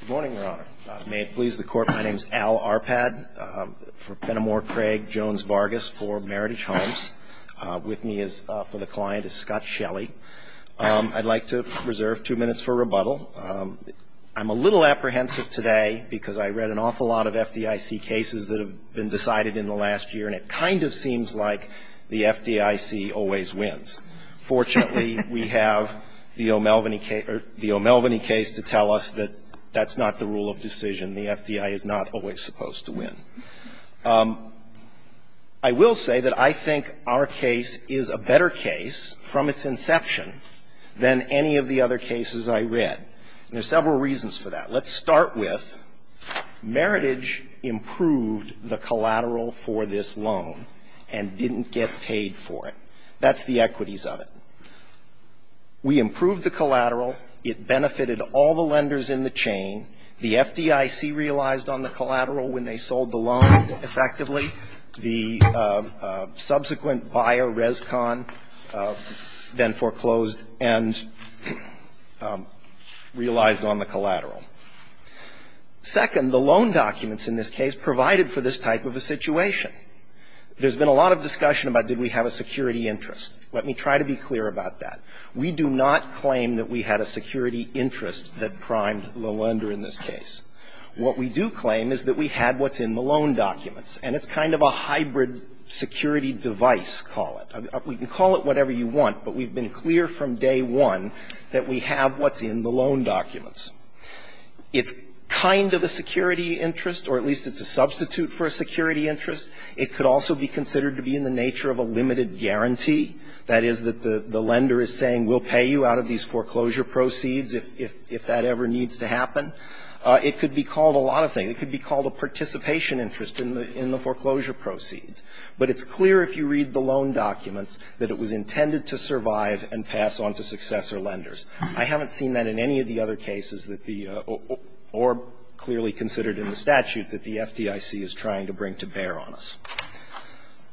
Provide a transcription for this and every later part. Good morning, Your Honor. May it please the Court, my name is Al Arpad, from Fenimore Craig Jones Vargas for Meritage Homes. With me is, for the client, is Scott Shelley. I'd like to reserve two minutes for rebuttal. I'm a little apprehensive today because I read an awful lot of FDIC cases that have been decided in the last year, and it kind of seems like the FDIC always wins. Fortunately, we have the O'Melveny case to tell us that that's not the rule of decision. The FDIC is not always supposed to win. I will say that I think our case is a better case from its inception than any of the other cases I read. There are several reasons for that. Let's start with Meritage improved the collateral for this loan and didn't get paid for it. That's the equities of it. We improved the collateral. It benefited all the lenders in the chain. The FDIC realized on the collateral when they sold the loan effectively. The subsequent buyer, Rescon, then foreclosed and realized on the collateral. Second, the loan documents in this case provided for this type of a situation. There's been a lot of discussion about did we have a security interest. Let me try to be clear about that. We do not claim that we had a security interest that primed the lender in this case. What we do claim is that we had what's in the loan documents, and it's kind of a hybrid security device, call it. We can call it whatever you want, but we've been clear from day one that we have what's in the loan documents. It's kind of a security interest, or at least it's a substitute for a security interest. It could also be considered to be in the nature of a limited guarantee. That is, that the lender is saying we'll pay you out of these foreclosure proceeds if that ever needs to happen. It could be called a lot of things. It could be called a participation interest in the foreclosure proceeds. But it's clear if you read the loan documents that it was intended to survive and pass on to successor lenders. I haven't seen that in any of the other cases that the or clearly considered in the statute that the FDIC is trying to bring to bear on us.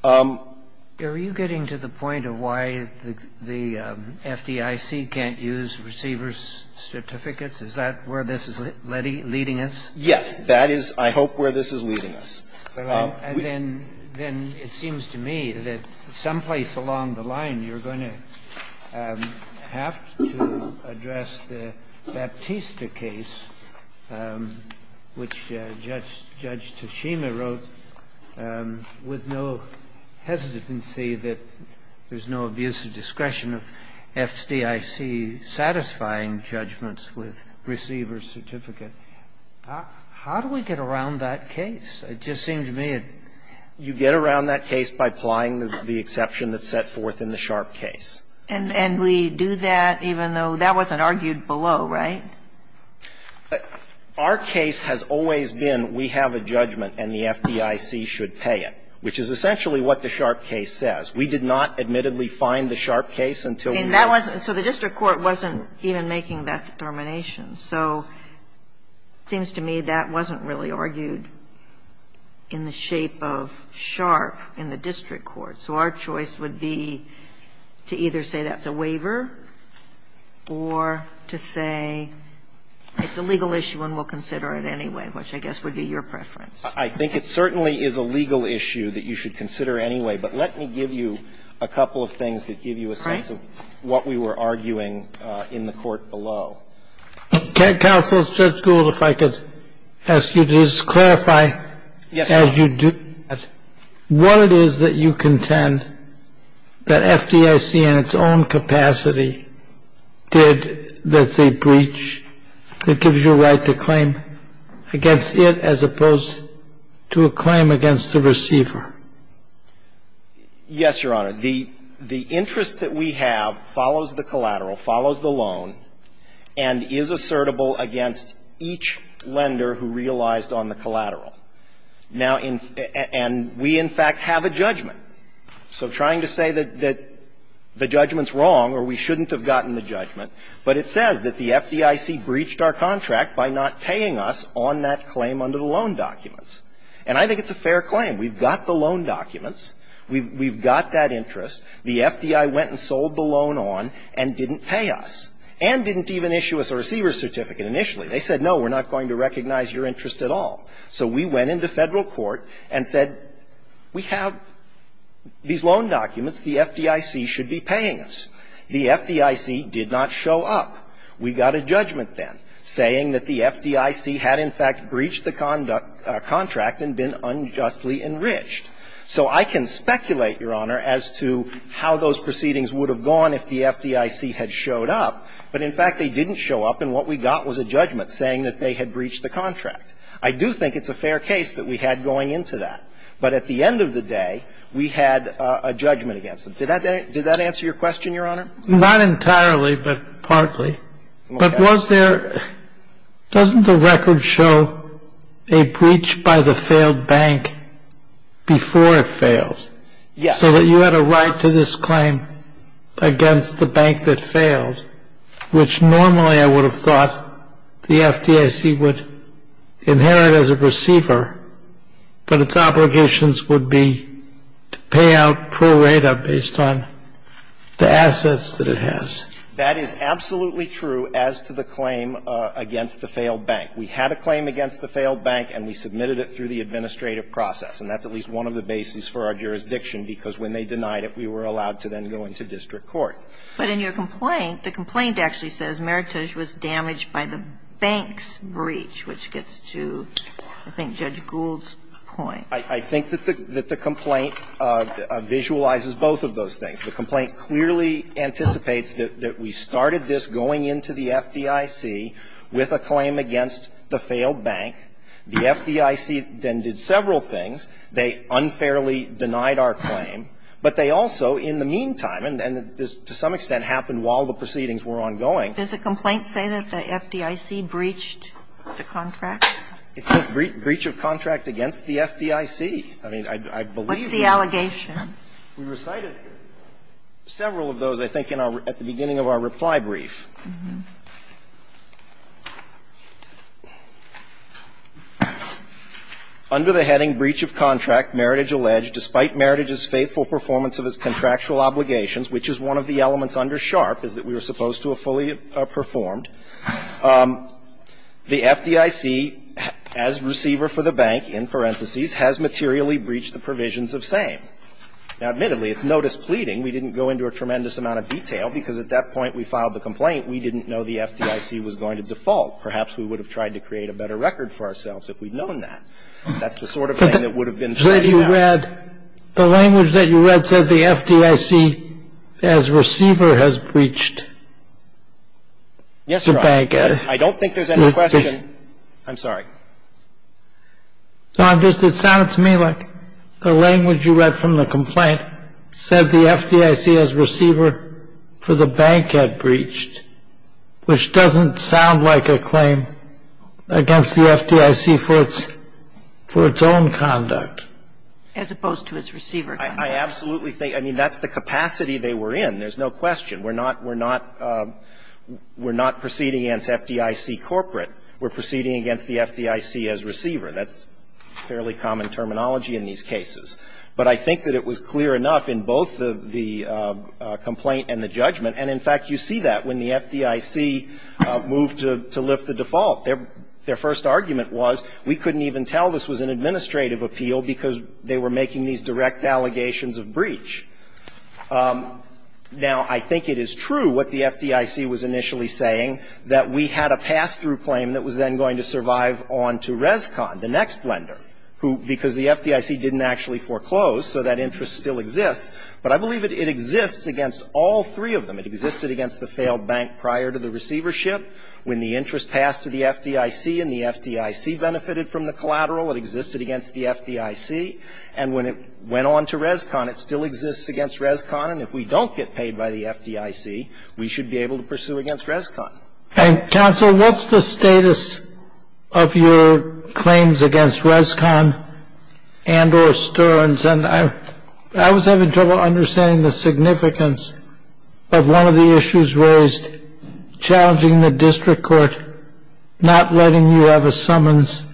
Um. Kennedy, are you getting to the point of why the FDIC can't use receiver's certificates? Is that where this is leading us? Yes. That is, I hope, where this is leading us. And then it seems to me that someplace along the line you're going to have to address the Baptista case, which Judge Tashima wrote with no hesitancy that there's no abuse of discretion of FDIC satisfying judgments with receiver's certificate. How do we get around that case? It just seems to me it's you get around that case by applying the exception that's set forth in the Sharp case. And we do that even though that wasn't argued below, right? Our case has always been we have a judgment and the FDIC should pay it, which is essentially what the Sharp case says. We did not admittedly find the Sharp case until we had. And that wasn't so the district court wasn't even making that determination. So it seems to me that wasn't really argued in the shape of Sharp in the district court. So our choice would be to either say that's a waiver or to say it's a legal issue and we'll consider it anyway, which I guess would be your preference. I think it certainly is a legal issue that you should consider anyway. But let me give you a couple of things that give you a sense of what we were arguing in the court below. Can Counsel Judge Gould, if I could ask you to just clarify as you do that, what it is that you contend that FDIC in its own capacity did that's a breach that gives you a right to claim against it as opposed to a claim against the receiver? Yes, Your Honor. The interest that we have follows the collateral, follows the loan, and is assertable against each lender who realized on the collateral. Now, and we in fact have a judgment. So trying to say that the judgment's wrong or we shouldn't have gotten the judgment, but it says that the FDIC breached our contract by not paying us on that claim under the loan documents. And I think it's a fair claim. We've got the loan documents. We've got that interest. The FDI went and sold the loan on and didn't pay us and didn't even issue us a receiver certificate initially. They said, no, we're not going to recognize your interest at all. So we went into Federal court and said, we have these loan documents. The FDIC should be paying us. The FDIC did not show up. We got a judgment then saying that the FDIC had in fact breached the contract and been unjustly enriched. So I can speculate, Your Honor, as to how those proceedings would have gone if the FDIC had showed up. But in fact, they didn't show up, and what we got was a judgment saying that they had breached the contract. I do think it's a fair case that we had going into that. But at the end of the day, we had a judgment against them. Did that answer your question, Your Honor? Not entirely, but partly. But was there — doesn't the record show a breach by the failed bank before it failed? Yes. So that you had a right to this claim against the bank that failed, which normally I would have thought the FDIC would inherit as a receiver, but its obligations would be to pay out pro rata based on the assets that it has. That is absolutely true as to the claim against the failed bank. We had a claim against the failed bank, and we submitted it through the administrative process. And that's at least one of the bases for our jurisdiction, because when they denied it, we were allowed to then go into district court. But in your complaint, the complaint actually says Meritage was damaged by the bank's breach, which gets to, I think, Judge Gould's point. I think that the complaint visualizes both of those things. The complaint clearly anticipates that we started this going into the FDIC with a claim against the failed bank. The FDIC then did several things. They unfairly denied our claim. But they also, in the meantime, and to some extent happened while the proceedings were ongoing. Does the complaint say that the FDIC breached the contract? It said breach of contract against the FDIC. I mean, I believe that. What's the allegation? We recited several of those, I think, at the beginning of our reply brief. Under the heading, breach of contract, Meritage alleged, despite Meritage's faithful performance of its contractual obligations, which is one of the elements under SHARP, is that we were supposed to have fully performed, the FDIC, as receiver for the bank, in parentheses, has materially breached the provisions of SAME. Now, admittedly, it's notice pleading. We didn't go into a tremendous amount of detail, because at that point we filed the complaint. We didn't know the FDIC was going to default. Perhaps we would have tried to create a better record for ourselves if we'd known that. That's the sort of thing that would have been fledged out. The language that you read said the FDIC, as receiver, has breached the bank. Yes, Your Honor, I don't think there's any question. I'm sorry. No, I'm just, it sounded to me like the language you read from the complaint said the FDIC, as receiver for the bank, had breached, which doesn't sound like a claim against the FDIC for its own conduct. As opposed to its receiver. I absolutely think, I mean, that's the capacity they were in. There's no question. We're not, we're not, we're not proceeding against FDIC corporate. We're proceeding against the FDIC as receiver. That's fairly common terminology in these cases. But I think that it was clear enough in both the complaint and the judgment. And, in fact, you see that when the FDIC moved to lift the default. Their first argument was we couldn't even tell this was an administrative appeal because they were making these direct allegations of breach. Now, I think it is true what the FDIC was initially saying, that we had a pass-through claim that was then going to survive on to Rescon, the next lender, who, because the FDIC didn't actually foreclose, so that interest still exists. But I believe it exists against all three of them. It existed against the failed bank prior to the receivership. When the interest passed to the FDIC and the FDIC benefited from the collateral, it existed against the FDIC. And when it went on to Rescon, it still exists against Rescon. And if we don't get paid by the FDIC, we should be able to pursue against Rescon. And, counsel, what's the status of your claims against Rescon and or Stearns? And I was having trouble understanding the significance of one of the issues raised, challenging the district court not letting you have a summons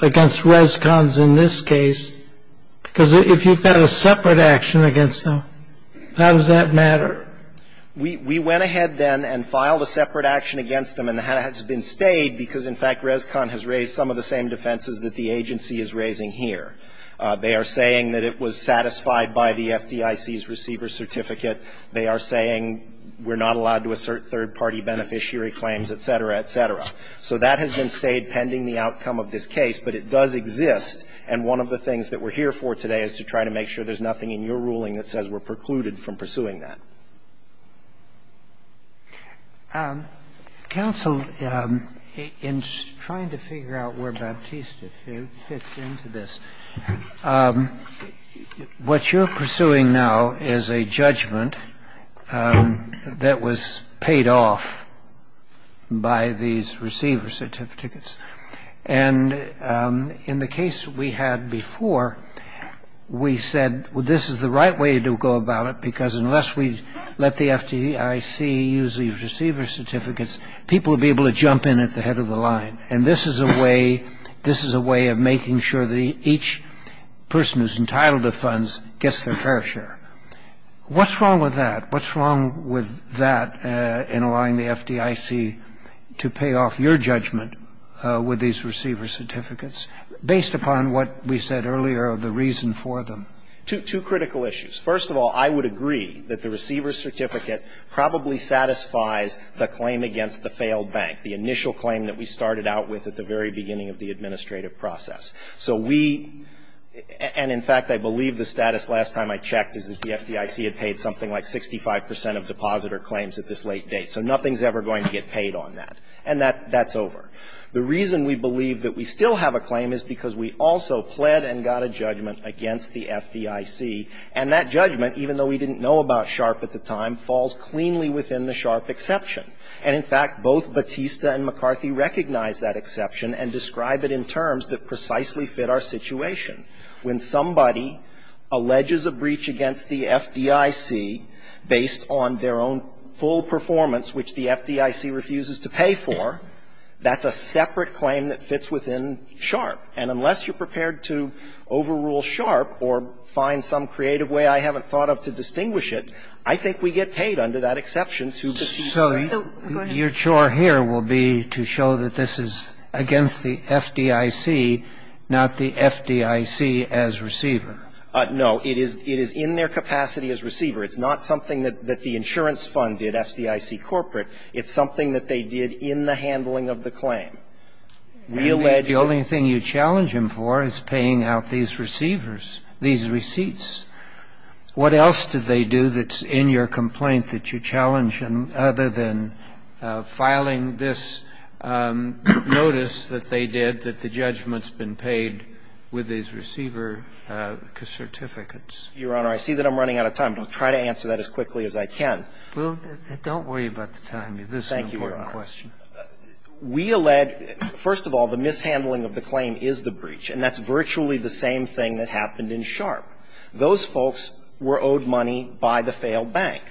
against Rescons in this case, because if you've got a separate action against them, how does that matter? We went ahead then and filed a separate action against them, and it has been stayed because, in fact, Rescon has raised some of the same defenses that the agency is raising here. They are saying that it was satisfied by the FDIC's receiver certificate. They are saying we're not allowed to assert third-party beneficiary claims, et cetera, et cetera. So that has been stayed pending the outcome of this case, but it does exist. And one of the things that we're here for today is to try to make sure there's nothing in your ruling that says we're precluded from pursuing that. Counsel, in trying to figure out where Baptista fits into this, what you're pursuing now is a judgment that was paid off by these receiver certificates. And in the case we had before, we said, well, this is the right way to go about it, because unless we let the FDIC use the receiver certificates, people will be able to jump in at the head of the line. And this is a way of making sure that each person who's entitled to funds gets their fair share. What's wrong with that? What's wrong with that in allowing the FDIC to pay off your judgment with these receiver certificates, based upon what we said earlier of the reason for them? Two critical issues. First of all, I would agree that the receiver certificate probably satisfies the claim against the failed bank, the initial claim that we started out with at the very beginning of the administrative process. So we — and, in fact, I believe the status last time I checked is that the FDIC had paid something like 65 percent of depositor claims at this late date. So nothing's ever going to get paid on that. And that's over. The reason we believe that we still have a claim is because we also pled and got a judgment against the FDIC. And that judgment, even though we didn't know about SHARP at the time, falls cleanly within the SHARP exception. And, in fact, both Batista and McCarthy recognize that exception and describe it in terms that precisely fit our situation. When somebody alleges a breach against the FDIC based on their own full performance, which the FDIC refuses to pay for, that's a separate claim that fits within SHARP. And unless you're prepared to overrule SHARP or find some creative way I haven't thought of to distinguish it, I think we get paid under that exception to Batista. So your chore here will be to show that this is against the FDIC, not the FDIC as receiver. No. It is in their capacity as receiver. It's not something that the insurance fund did, FDIC corporate. It's something that they did in the handling of the claim. We allege that the only thing you challenge them for is paying out these receivers, these receipts. What else do they do that's in your complaint that you challenge them other than filing this notice that they did that the judgment's been paid with these receiver certificates? Your Honor, I see that I'm running out of time. I'll try to answer that as quickly as I can. This is an important question. Thank you, Your Honor. We allege, first of all, the mishandling of the claim is the breach, and that's virtually the same thing that happened in SHARP. Those folks were owed money by the failed bank.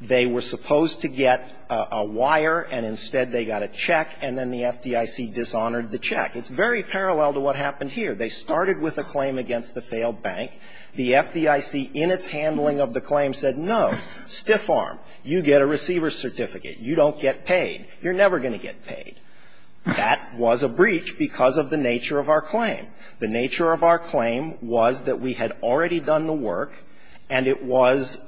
They were supposed to get a wire, and instead they got a check, and then the FDIC dishonored the check. It's very parallel to what happened here. They started with a claim against the failed bank. The FDIC, in its handling of the claim, said, no, Stiff Arm, you get a receiver's certificate. You don't get paid. You're never going to get paid. That was a breach because of the nature of our claim. The nature of our claim was that we had already done the work, and it was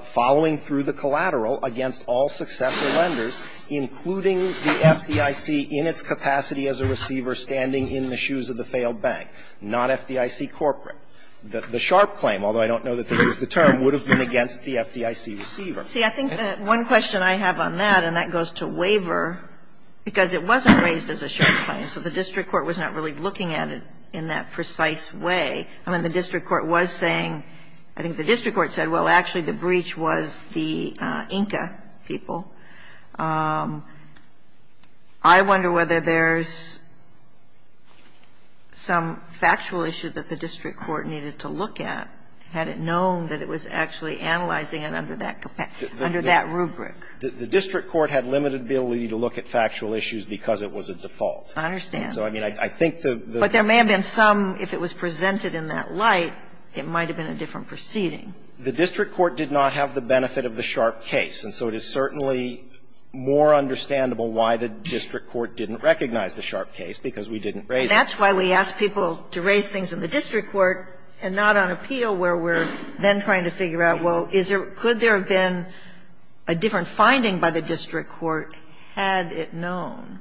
following through the collateral against all successor lenders, including the FDIC in its capacity as a receiver standing in the shoes of the failed bank, not FDIC corporate. The SHARP claim, although I don't know that that was the term, would have been against the FDIC receiver. See, I think one question I have on that, and that goes to waiver, because it wasn't raised as a SHARP claim, so the district court was not really looking at it in that precise way. I mean, the district court was saying – I think the district court said, well, actually the breach was the INCA people. I wonder whether there's some factual issue that the district court needed to look at, had it known that it was actually analyzing it under that capacity. Under that rubric. The district court had limited ability to look at factual issues because it was a default. I understand. So, I mean, I think the – the – But there may have been some, if it was presented in that light, it might have been a different proceeding. The district court did not have the benefit of the SHARP case, and so it is certainly more understandable why the district court didn't recognize the SHARP case, because we didn't raise it. That's why we ask people to raise things in the district court and not on appeal, where we're then trying to figure out, well, is there – could there have been a different finding by the district court, had it known?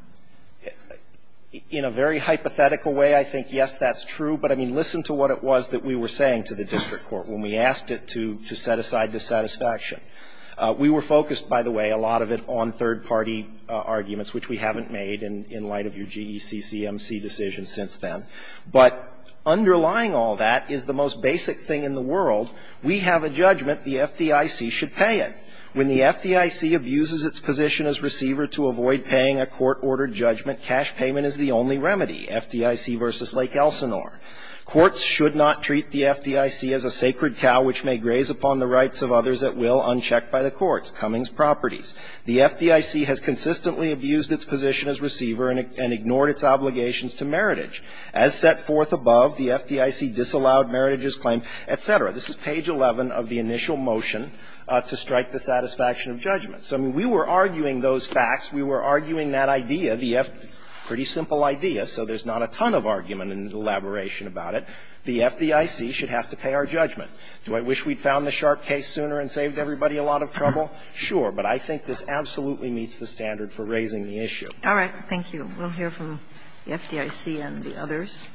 In a very hypothetical way, I think, yes, that's true. But, I mean, listen to what it was that we were saying to the district court when we asked it to set aside dissatisfaction. We were focused, by the way, a lot of it on third-party arguments, which we haven't made in light of your GECCMC decision since then. But underlying all that is the most basic thing in the world. We have a judgment the FDIC should pay it. When the FDIC abuses its position as receiver to avoid paying a court-ordered judgment, cash payment is the only remedy, FDIC v. Lake Elsinore. Courts should not treat the FDIC as a sacred cow which may graze upon the rights of others at will unchecked by the courts, Cummings Properties. The FDIC has consistently abused its position as receiver and ignored its obligations to Meritage. As set forth above, the FDIC disallowed Meritage's claim, et cetera. This is page 11 of the initial motion to strike the satisfaction of judgment. So, I mean, we were arguing those facts. We were arguing that idea, the pretty simple idea, so there's not a ton of argument and elaboration about it. The FDIC should have to pay our judgment. Do I wish we'd found the sharp case sooner and saved everybody a lot of trouble? Sure. But I think this absolutely meets the standard for raising the issue. Kagan. All right. Thank you. We'll hear from the FDIC and the others.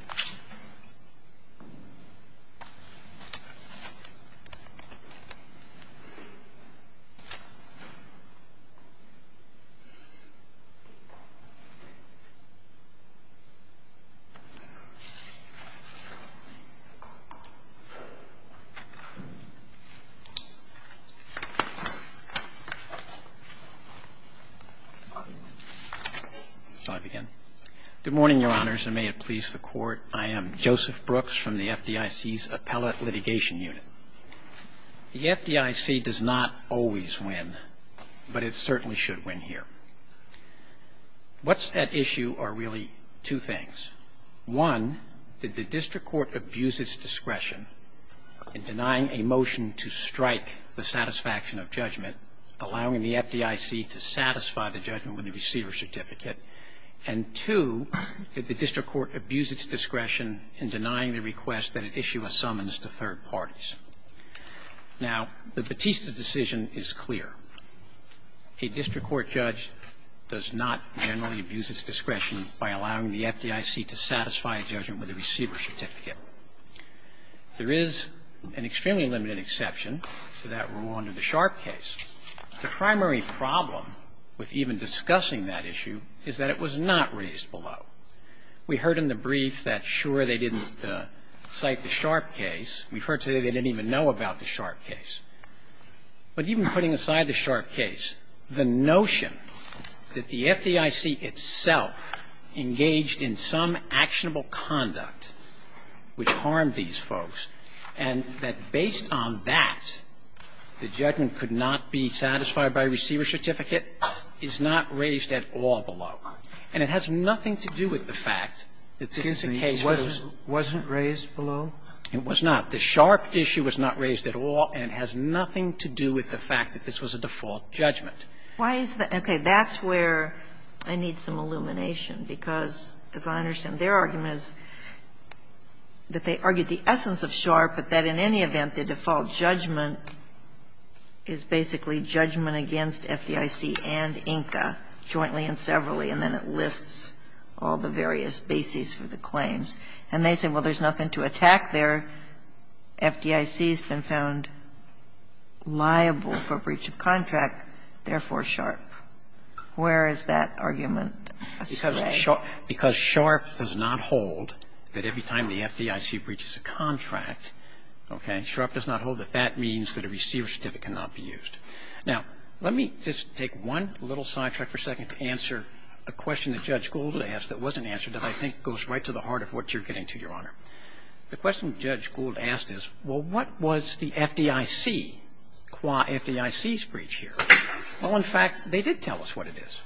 Good morning, Your Honors, and may it please the Court. I am Joseph Brooks from the FDIC's Appellate Litigation Unit. The FDIC does not always win, but it certainly should win here. What's at issue are really two things. One, did the district court abuse its discretion in denying a motion to strike the satisfaction of judgment, allowing the FDIC to satisfy the judgment with a receiver certificate, and two, did the district court abuse its discretion in denying the request that it issue a summons to third parties? Now, the Batista decision is clear. A district court judge does not generally abuse its discretion by allowing the FDIC to satisfy a judgment with a receiver certificate. There is an extremely limited exception to that rule under the sharp case. The primary problem with even discussing that issue is that it was not raised below. We heard in the brief that, sure, they didn't cite the sharp case. We've heard today they didn't even know about the sharp case. But even putting aside the sharp case, the notion that the FDIC itself engaged in some actionable conduct which harmed these folks and that based on that, the judgment could not be satisfied by a receiver certificate is not raised at all below. And it has nothing to do with the fact that this is a case where it's not raised at all below. It has nothing to do with the fact that this was a default judgment. Why is the – okay. That's where I need some illumination, because as I understand, their argument is that they argued the essence of sharp, but that in any event, the default judgment is basically judgment against FDIC and INCA jointly and severally, and then it lists all the various bases for the claims. And they say, well, there's nothing to attack there. And the FDIC has been found liable for breach of contract, therefore sharp. Where is that argument astray? Because sharp does not hold that every time the FDIC breaches a contract, okay, sharp does not hold that that means that a receiver certificate cannot be used. Now, let me just take one little sidetrack for a second to answer a question that Judge Gould asked that wasn't answered that I think goes right to the heart of what you're getting to, Your Honor. The question Judge Gould asked is, well, what was the FDIC, qua FDIC's breach here? Well, in fact, they did tell us what it is.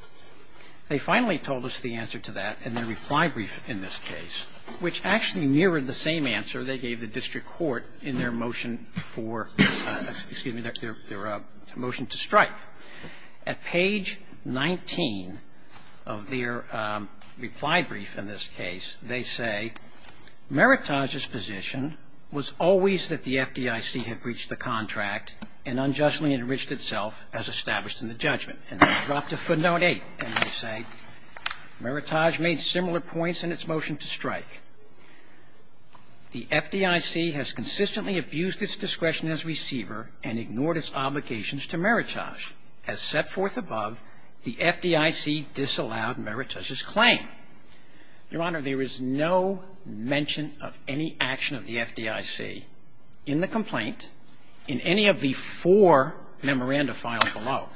They finally told us the answer to that in their reply brief in this case, which actually mirrored the same answer they gave the district court in their motion for – excuse me, their motion to strike. At page 19 of their reply brief in this case, they say, Meritage's position was always that the FDIC had breached the contract and unjustly enriched itself as established in the judgment, and they dropped a footnote 8. And they say, Meritage made similar points in its motion to strike. The FDIC has consistently abused its discretion as receiver and ignored its obligations to Meritage. As set forth above, the FDIC disallowed Meritage's claim. Your Honor, there is no mention of any action of the FDIC in the complaint in any of the four memoranda filed below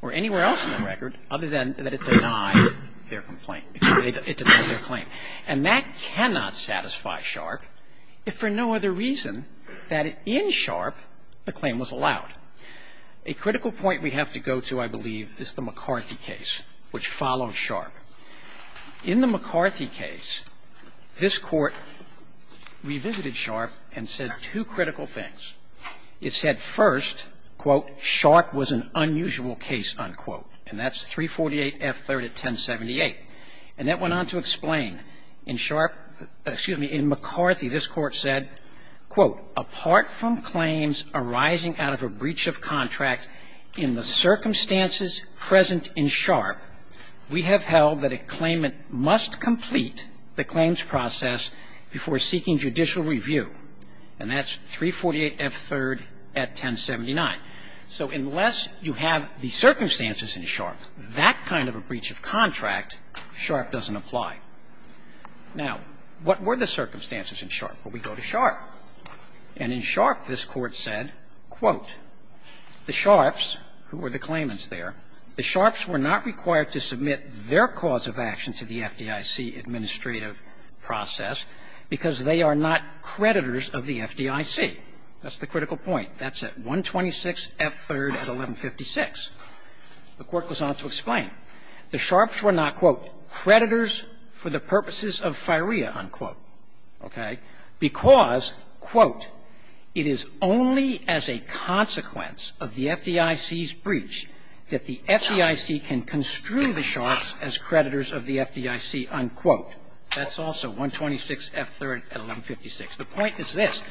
or anywhere else in the record other than that it denied their complaint – excuse me, it denied their claim. And that cannot satisfy Sharpe if for no other reason than in Sharpe the claim was allowed. A critical point we have to go to, I believe, is the McCarthy case, which followed Sharpe. In the McCarthy case, this Court revisited Sharpe and said two critical things. It said first, quote, Sharpe was an unusual case, unquote. And that's 348F3rd at 1078. And that went on to explain in Sharpe – excuse me, in McCarthy, this Court said, quote, apart from claims arising out of a breach of contract in the circumstances present in Sharpe, we have held that a claimant must complete the claims process before seeking judicial review. And that's 348F3rd at 1079. So unless you have the circumstances in Sharpe, that kind of a breach of contract, Sharpe doesn't apply. Now, what were the circumstances in Sharpe? Well, we go to Sharpe. And in Sharpe, this Court said, quote, the Sharpes, who were the claimants there, the Sharpes were not required to submit their cause of action to the FDIC administrative process because they are not creditors of the FDIC. That's the critical point. That's at 126F3rd at 1156. The Court goes on to explain. The Sharpes were not, quote, creditors for the purposes of firea, unquote, okay, because, quote, it is only as a consequence of the FDIC's breach that the FDIC can construe the Sharpes as creditors of the FDIC, unquote. That's also 126F3rd at 1156. The point is this.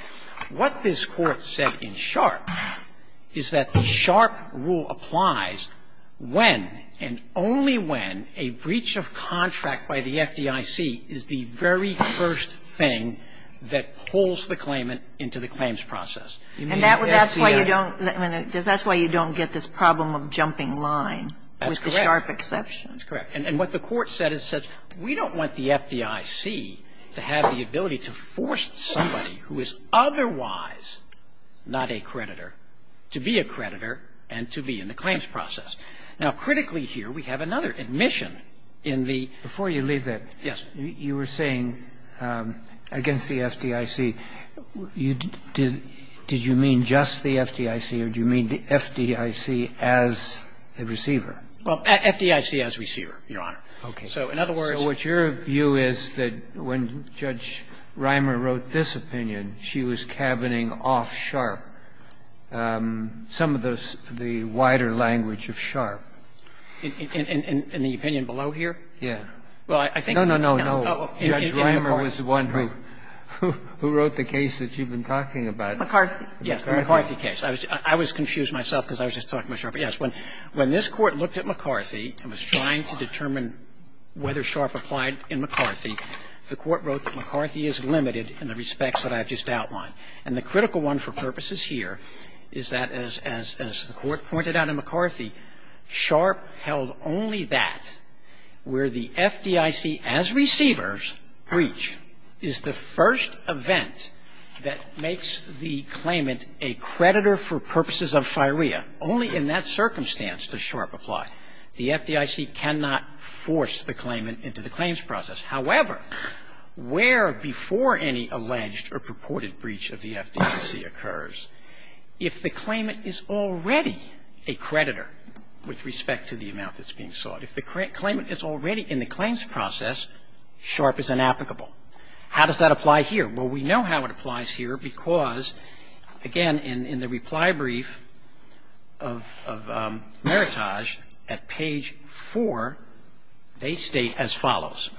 What this Court said in Sharpe is that the Sharpe rule applies when and only when a breach of contract by the FDIC is the very first thing that pulls the claimant into the claims process. And that's why you don't get this problem of jumping line with the Sharpe exception. That's correct. And what the Court said is it says we don't want the FDIC to have the ability to force somebody who is otherwise not a creditor to be a creditor and to be in the claims process. Now, critically here, we have another admission in the ---- Before you leave that, you were saying against the FDIC, did you mean just the FDIC or did you mean the FDIC as a receiver? Well, FDIC as receiver, Your Honor. Okay. So in other words ---- So what your view is that when Judge Reimer wrote this opinion, she was cabining off Sharpe, some of the wider language of Sharpe? In the opinion below here? Yes. Well, I think ---- No, no, no, no. Judge Reimer was the one who wrote the case that you've been talking about. McCarthy. Yes, the McCarthy case. I was confused myself because I was just talking about Sharpe. Yes. When this Court looked at McCarthy and was trying to determine whether Sharpe applied in McCarthy, the Court wrote that McCarthy is limited in the respects that I've just outlined. And the critical one for purposes here is that as the Court pointed out in McCarthy, Sharpe held only that where the FDIC as receivers breach is the first event that makes the claimant a creditor for purposes of firea, only in that circumstance does Sharpe apply. The FDIC cannot force the claimant into the claims process. However, where before any alleged or purported breach of the FDIC occurs, if the claimant is already a creditor with respect to the amount that's being sought, if the claimant is already in the claims process, Sharpe is inapplicable. How does that apply here? Well, we know how it applies here because, again, in the reply brief of Meritage at page 4, they state as follows.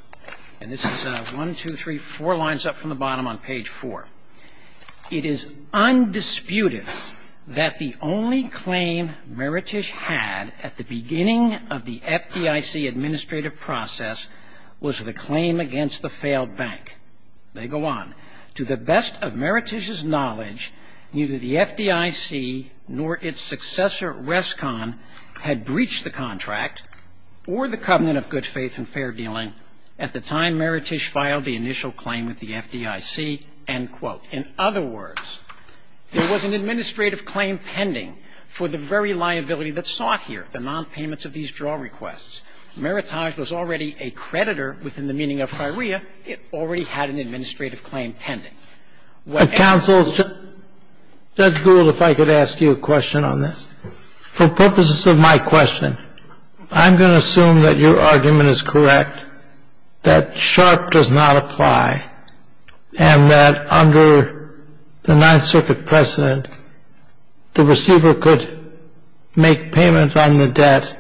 And this is 1, 2, 3, 4 lines up from the bottom on page 4. It is undisputed that the only claim Meritige had at the beginning of the FDIC administrative process was the claim against the failed bank. They go on. To the best of Meritige's knowledge, neither the FDIC nor its successor, Rescon, had breached the contract or the covenant of good faith and fair dealing at the time Meritige filed the initial claim with the FDIC, end quote. In other words, there was an administrative claim pending for the very liability that's sought here, the nonpayments of these draw requests. Meritige was already a creditor within the meaning of firea. It already had an administrative claim pending. Well, counsel, Judge Gould, if I could ask you a question on this. For purposes of my question, I'm going to assume that your argument is correct, that sharp does not apply, and that under the Ninth Circuit precedent, the receiver could make payment on the debt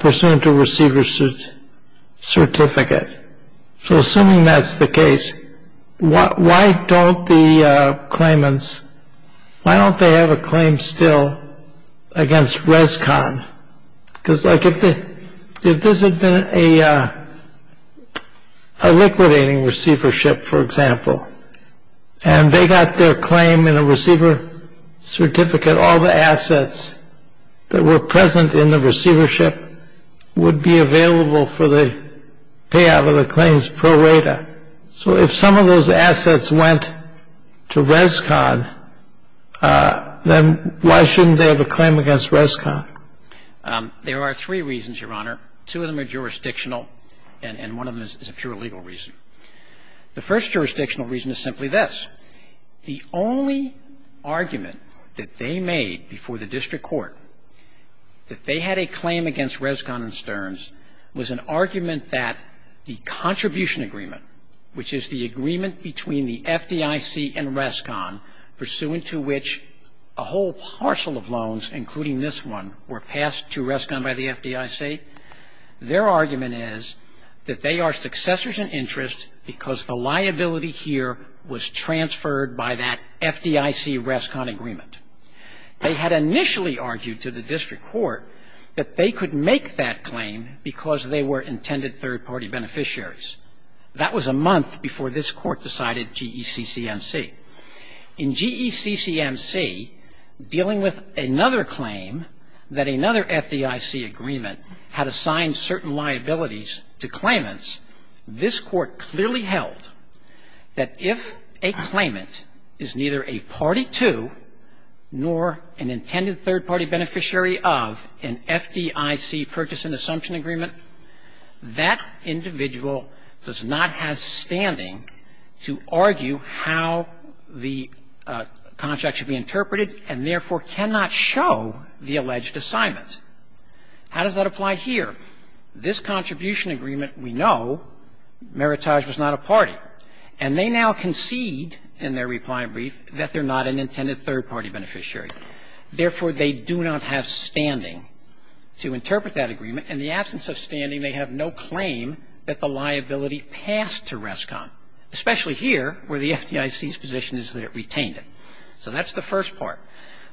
pursuant to receiver's certificate. So assuming that's the case, why don't the claimants, why don't they have a claim still against Rescon? Because if this had been a liquidating receivership, for example, and they got their claim in a receiver certificate, all the assets that were present in the receivership would be available for the payout of the claims pro rata. So if some of those assets went to Rescon, then why shouldn't they have a claim against Rescon? There are three reasons, Your Honor. Two of them are jurisdictional, and one of them is a pure legal reason. The first jurisdictional reason is simply this. The only argument that they made before the district court that they had a claim against Rescon and Stearns was an argument that the contribution agreement, which is the agreement between the FDIC and Rescon, pursuant to which a whole parcel of loans, including this one, were passed to Rescon by the FDIC, their argument is that they are successors in interest because the liability here was transferred by that FDIC-Rescon agreement. They had initially argued to the district court that they could make that claim because they were intended third-party beneficiaries. That was a month before this Court decided GECCMC. In GECCMC, dealing with another claim that another FDIC agreement had assigned certain liabilities to claimants, this Court clearly held that if a claimant is neither a party to nor an intended third-party beneficiary of an FDIC purchase and assumption agreement, that individual does not have standing to argue how the contract should be interpreted and, therefore, cannot show the alleged assignment. How does that apply here? This contribution agreement, we know, Meritage was not a party, and they now concede that they are not a party to nor an intended third-party beneficiary. Therefore, they do not have standing to interpret that agreement. In the absence of standing, they have no claim that the liability passed to Rescon, especially here where the FDIC's position is that it retained it. So that's the first part.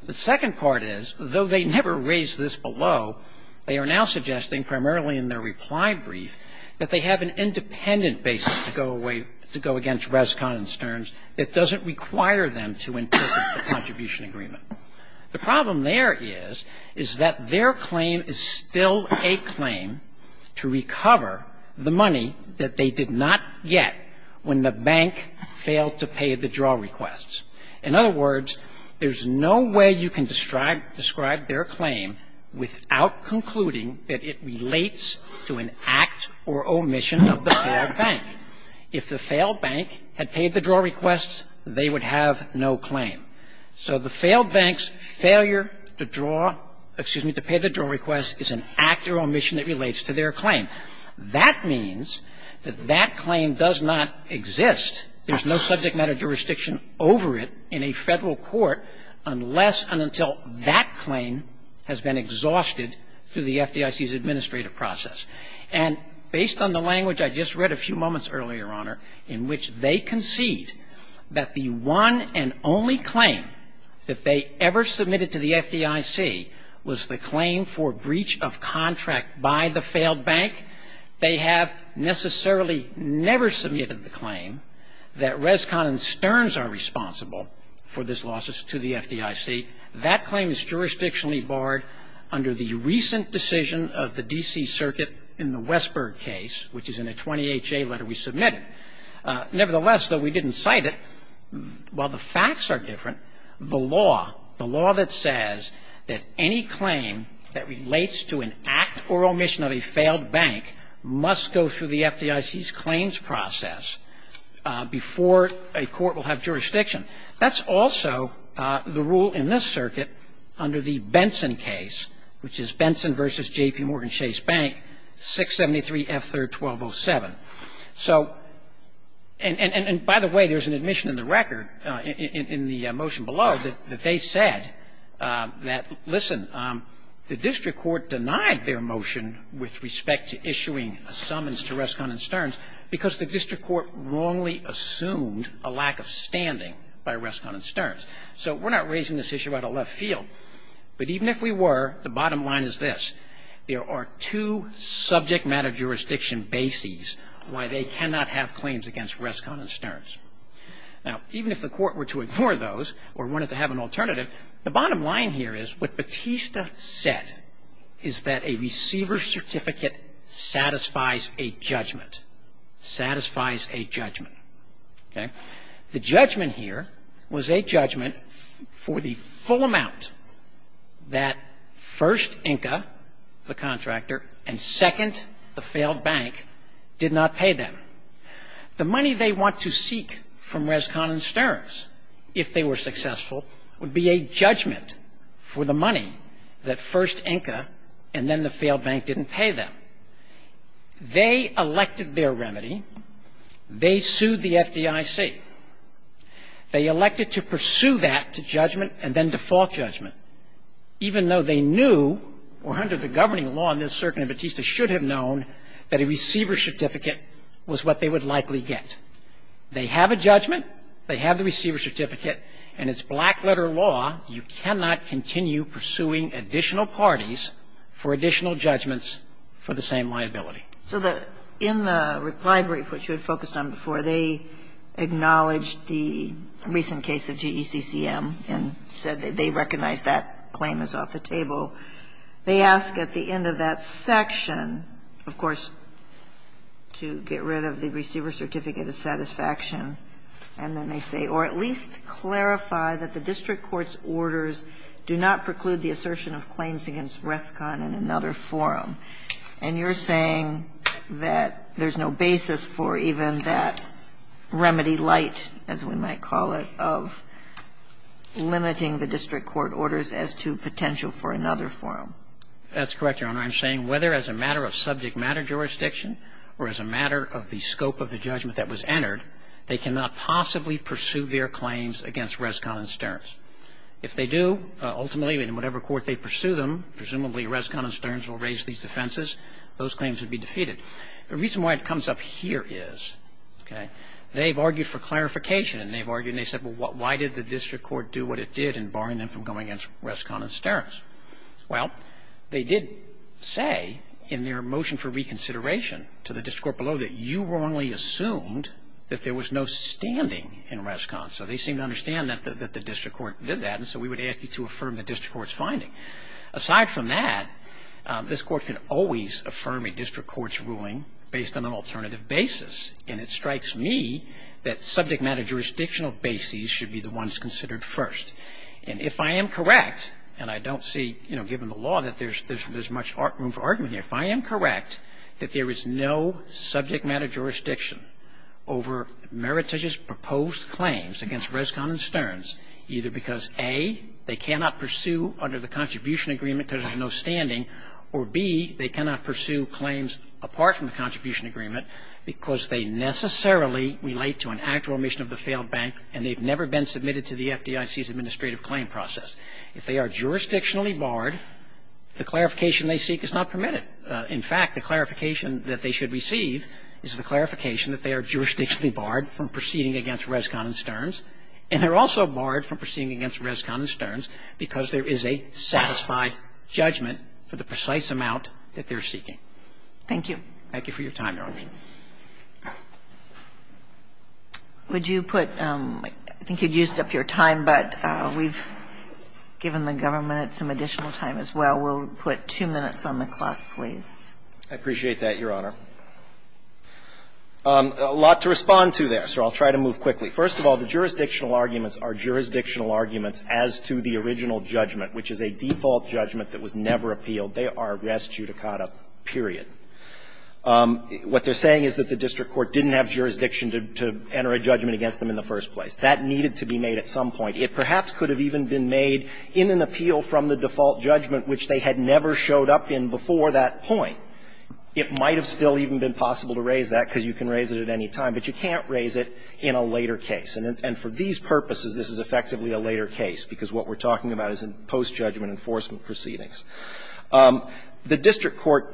The second part is, though they never raised this below, they are now suggesting, primarily in their reply brief, that they have an independent basis to go against Rescon and Stearns that doesn't require them to interpret the contribution agreement. The problem there is, is that their claim is still a claim to recover the money that they did not get when the bank failed to pay the draw requests. In other words, there's no way you can describe their claim without concluding that it relates to an act or omission of the poor bank. If the failed bank had paid the draw requests, they would have no claim. So the failed bank's failure to draw – excuse me, to pay the draw requests is an act or omission that relates to their claim. That means that that claim does not exist. There's no subject matter jurisdiction over it in a Federal court unless and until that claim has been exhausted through the FDIC's administrative process. And based on the language I just read a few moments earlier, Your Honor, in which they concede that the one and only claim that they ever submitted to the FDIC was the claim for breach of contract by the failed bank, they have necessarily never submitted the claim that Rescon and Stearns are responsible for this loss to the FDIC. That claim is jurisdictionally barred under the recent decision of the D.C. Circuit in the Westberg case, which is in a 28-J letter we submitted. Nevertheless, though we didn't cite it, while the facts are different, the law, the law that says that any claim that relates to an act or omission of a failed bank must go through the FDIC's claims process before a court will have jurisdiction. That's also the rule in this circuit under the Benson case, which is Benson v. J.P. Morgan Chase Bank, 673 F. 3rd, 1207. So, and by the way, there's an admission in the record, in the motion below, that they said that, listen, the district court denied their motion with respect to issuing a summons to Rescon and Stearns because the district court wrongly assumed a lack of standing by Rescon and Stearns. So we're not raising this issue out of left field. But even if we were, the bottom line is this. There are two subject matter jurisdiction bases why they cannot have claims against Rescon and Stearns. Now, even if the court were to ignore those or wanted to have an alternative, the bottom line here is what Batista said is that a receiver's certificate satisfies a judgment, satisfies a judgment. Okay? The judgment here was a judgment for the full amount that first, INCA, the contractor, and second, the failed bank, did not pay them. The money they want to seek from Rescon and Stearns, if they were successful, would be a judgment for the money that first, INCA, and then the failed bank didn't pay them. They elected their remedy. They sued the FDIC. They elected to pursue that to judgment and then default judgment, even though they knew, or under the governing law in this circuit, Batista should have known that a receiver's certificate was what they would likely get. They have a judgment. They have the receiver's certificate. And it's black-letter law. You cannot continue pursuing additional parties for additional judgments for the same liability. So the ñ in the reply brief, which you had focused on before, they acknowledged the recent case of GECCM and said that they recognize that claim is off the table. They ask at the end of that section, of course, to get rid of the receiver's certificate of satisfaction. And then they say, or at least clarify that the district court's orders do not preclude the assertion of claims against Rescon in another forum. And you're saying that there's no basis for even that remedy light, as we might call it, of limiting the district court orders as to potential for another forum. That's correct, Your Honor. I'm saying whether as a matter of subject matter jurisdiction or as a matter of the scope of the judgment that was entered, they cannot possibly pursue their claims against Rescon and Stearns. If they do, ultimately, in whatever court they pursue them, presumably Rescon and Stearns, those claims would be defeated. The reason why it comes up here is, okay, they've argued for clarification and they've argued and they've said, well, why did the district court do what it did in barring them from going against Rescon and Stearns? Well, they did say in their motion for reconsideration to the district court below that you wrongly assumed that there was no standing in Rescon. So they seemed to understand that the district court did that, and so we would ask you to affirm the district court's finding. Aside from that, this Court can always affirm a district court's ruling based on an alternative basis. And it strikes me that subject matter jurisdictional bases should be the ones considered first. And if I am correct, and I don't see, you know, given the law that there's much room for argument here, if I am correct that there is no subject matter jurisdiction over meritorious proposed claims against Rescon and Stearns, either because, A, they cannot pursue claims apart from the contribution agreement because there's no standing, or, B, they cannot pursue claims apart from the contribution agreement because they necessarily relate to an actual omission of the failed bank and they've never been submitted to the FDIC's administrative claim process. If they are jurisdictionally barred, the clarification they seek is not permitted. In fact, the clarification that they should receive is the clarification that they are jurisdictionally barred from proceeding against Rescon and Stearns, and they're also barred from proceeding against Rescon and Stearns because there is a satisfied judgment for the precise amount that they're seeking. Thank you. Thank you for your time, Your Honor. Would you put – I think you used up your time, but we've given the government some additional time as well. We'll put two minutes on the clock, please. I appreciate that, Your Honor. A lot to respond to there, so I'll try to move quickly. First of all, the jurisdictional arguments are jurisdictional arguments as to the original judgment, which is a default judgment that was never appealed. They are res judicata, period. What they're saying is that the district court didn't have jurisdiction to enter a judgment against them in the first place. That needed to be made at some point. It perhaps could have even been made in an appeal from the default judgment, which they had never showed up in before that point. It might have still even been possible to raise that, because you can raise it at any time, but you can't raise it in a later case. And for these purposes, this is effectively a later case, because what we're talking about is in post-judgment enforcement proceedings. The district court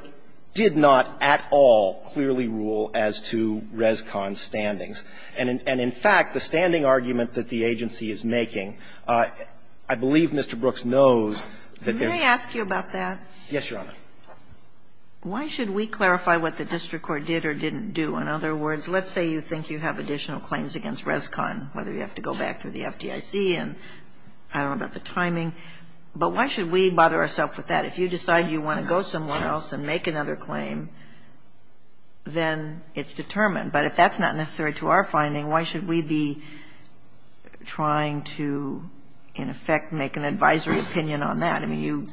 did not at all clearly rule as to Rescon's standings. And in fact, the standing argument that the agency is making, I believe Mr. Brooks knows that there's not. Can I ask you about that? Yes, Your Honor. Why should we clarify what the district court did or didn't do? In other words, let's say you think you have additional claims against Rescon, whether you have to go back to the FDIC and I don't know about the timing, but why should we bother ourself with that? If you decide you want to go somewhere else and make another claim, then it's determined. But if that's not necessary to our finding, why should we be trying to, in effect, make an advisory opinion on that? I mean, you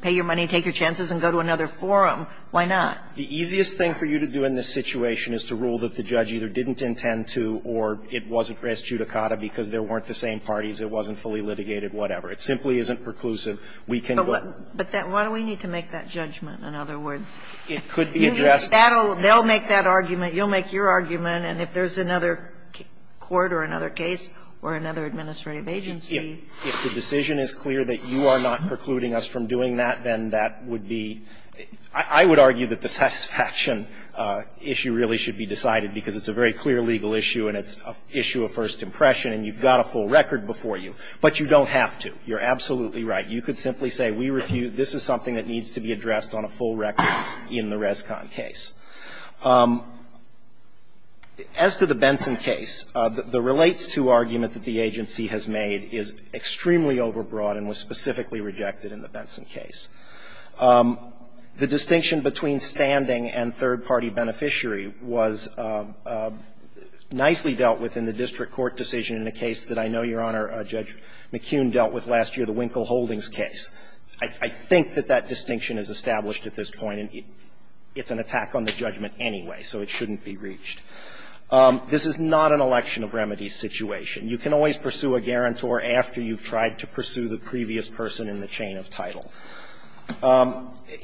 pay your money, take your chances, and go to another forum. Why not? The easiest thing for you to do in this situation is to rule that the judge either didn't intend to or it wasn't res judicata because there weren't the same parties, it wasn't fully litigated, whatever. It simply isn't preclusive. We can go to the court. But why do we need to make that judgment, in other words? It could be addressed. They'll make that argument, you'll make your argument, and if there's another court or another case or another administrative agency. If the decision is clear that you are not precluding us from doing that, then that would be – I would argue that the satisfaction issue really should be decided, because it's a very clear legal issue and it's an issue of first impression and you've got a full record before you. But you don't have to. You're absolutely right. You could simply say we refute. This is something that needs to be addressed on a full record in the Rescon case. As to the Benson case, the relates-to argument that the agency has made is that it is extremely overbroad and was specifically rejected in the Benson case. The distinction between standing and third-party beneficiary was nicely dealt with in the district court decision in a case that I know, Your Honor, Judge McKeon dealt with last year, the Winkle Holdings case. I think that that distinction is established at this point, and it's an attack on the judgment anyway, so it shouldn't be reached. This is not an election of remedies situation. You can always pursue a guarantor after you've tried to pursue the previous person in the chain of title.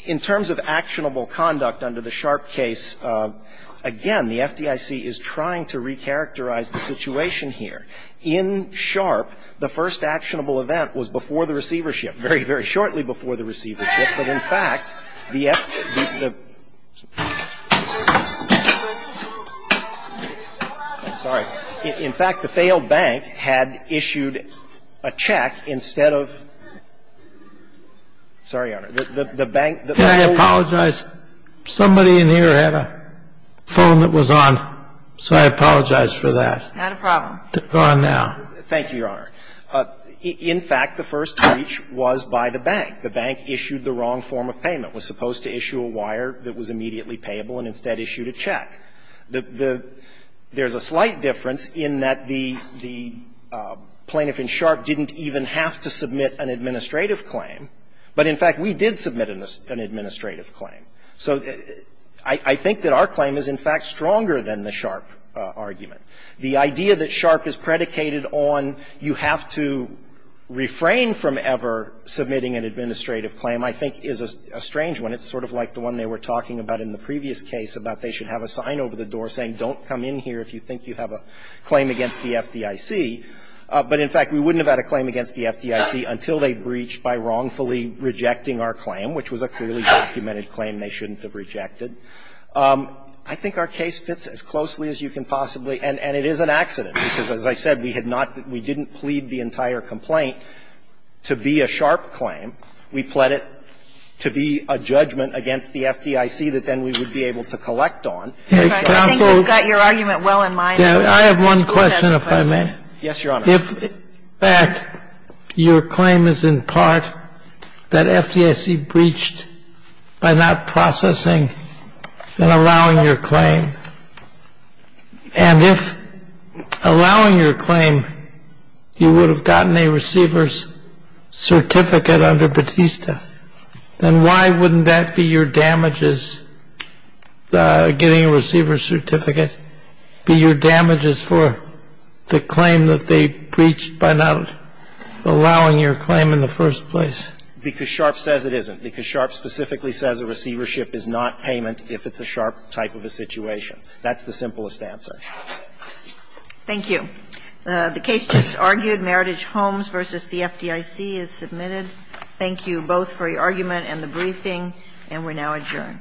In terms of actionable conduct under the Sharp case, again, the FDIC is trying to recharacterize the situation here. In Sharp, the first actionable event was before the receivership, very, very shortly before the receivership, but in fact, the FDIC – The bank had issued a check instead of – sorry, Your Honor, the bank – Can I apologize? Somebody in here had a phone that was on, so I apologize for that. Not a problem. Go on now. Thank you, Your Honor. In fact, the first breach was by the bank. The bank issued the wrong form of payment, was supposed to issue a wire that was immediately payable and instead issued a check. There's a slight difference in that the plaintiff in Sharp didn't even have to submit an administrative claim, but in fact, we did submit an administrative claim. So I think that our claim is, in fact, stronger than the Sharp argument. The idea that Sharp is predicated on you have to refrain from ever submitting an administrative claim, I think, is a strange one. It's sort of like the one they were talking about in the previous case, about they should have a sign over the door saying, don't come in here if you think you have a claim against the FDIC. But in fact, we wouldn't have had a claim against the FDIC until they breached by wrongfully rejecting our claim, which was a clearly documented claim they shouldn't have rejected. I think our case fits as closely as you can possibly – and it is an accident, because as I said, we had not – we didn't plead the entire complaint to be a Sharp claim. We pled it to be a judgment against the FDIC that then we would be able to collect on. Kennedy, I think we've got your argument well in mind. Kennedy, I have one question, if I may. Kennedy, yes, Your Honor. Kennedy, in fact, your claim is in part that FDIC breached by not processing and allowing your claim. And if allowing your claim, you would have gotten a receiver's certificate under Batista, then why wouldn't that be your damages, getting a receiver's certificate, be your damages for the claim that they breached by not allowing your claim in the first place? Because Sharp says it isn't, because Sharp specifically says a receivership is not payment if it's a Sharp type of a situation. That's the simplest answer. Thank you. The case just argued, Meritage Homes v. the FDIC is submitted. Thank you both for your argument and the briefing, and we're now adjourned.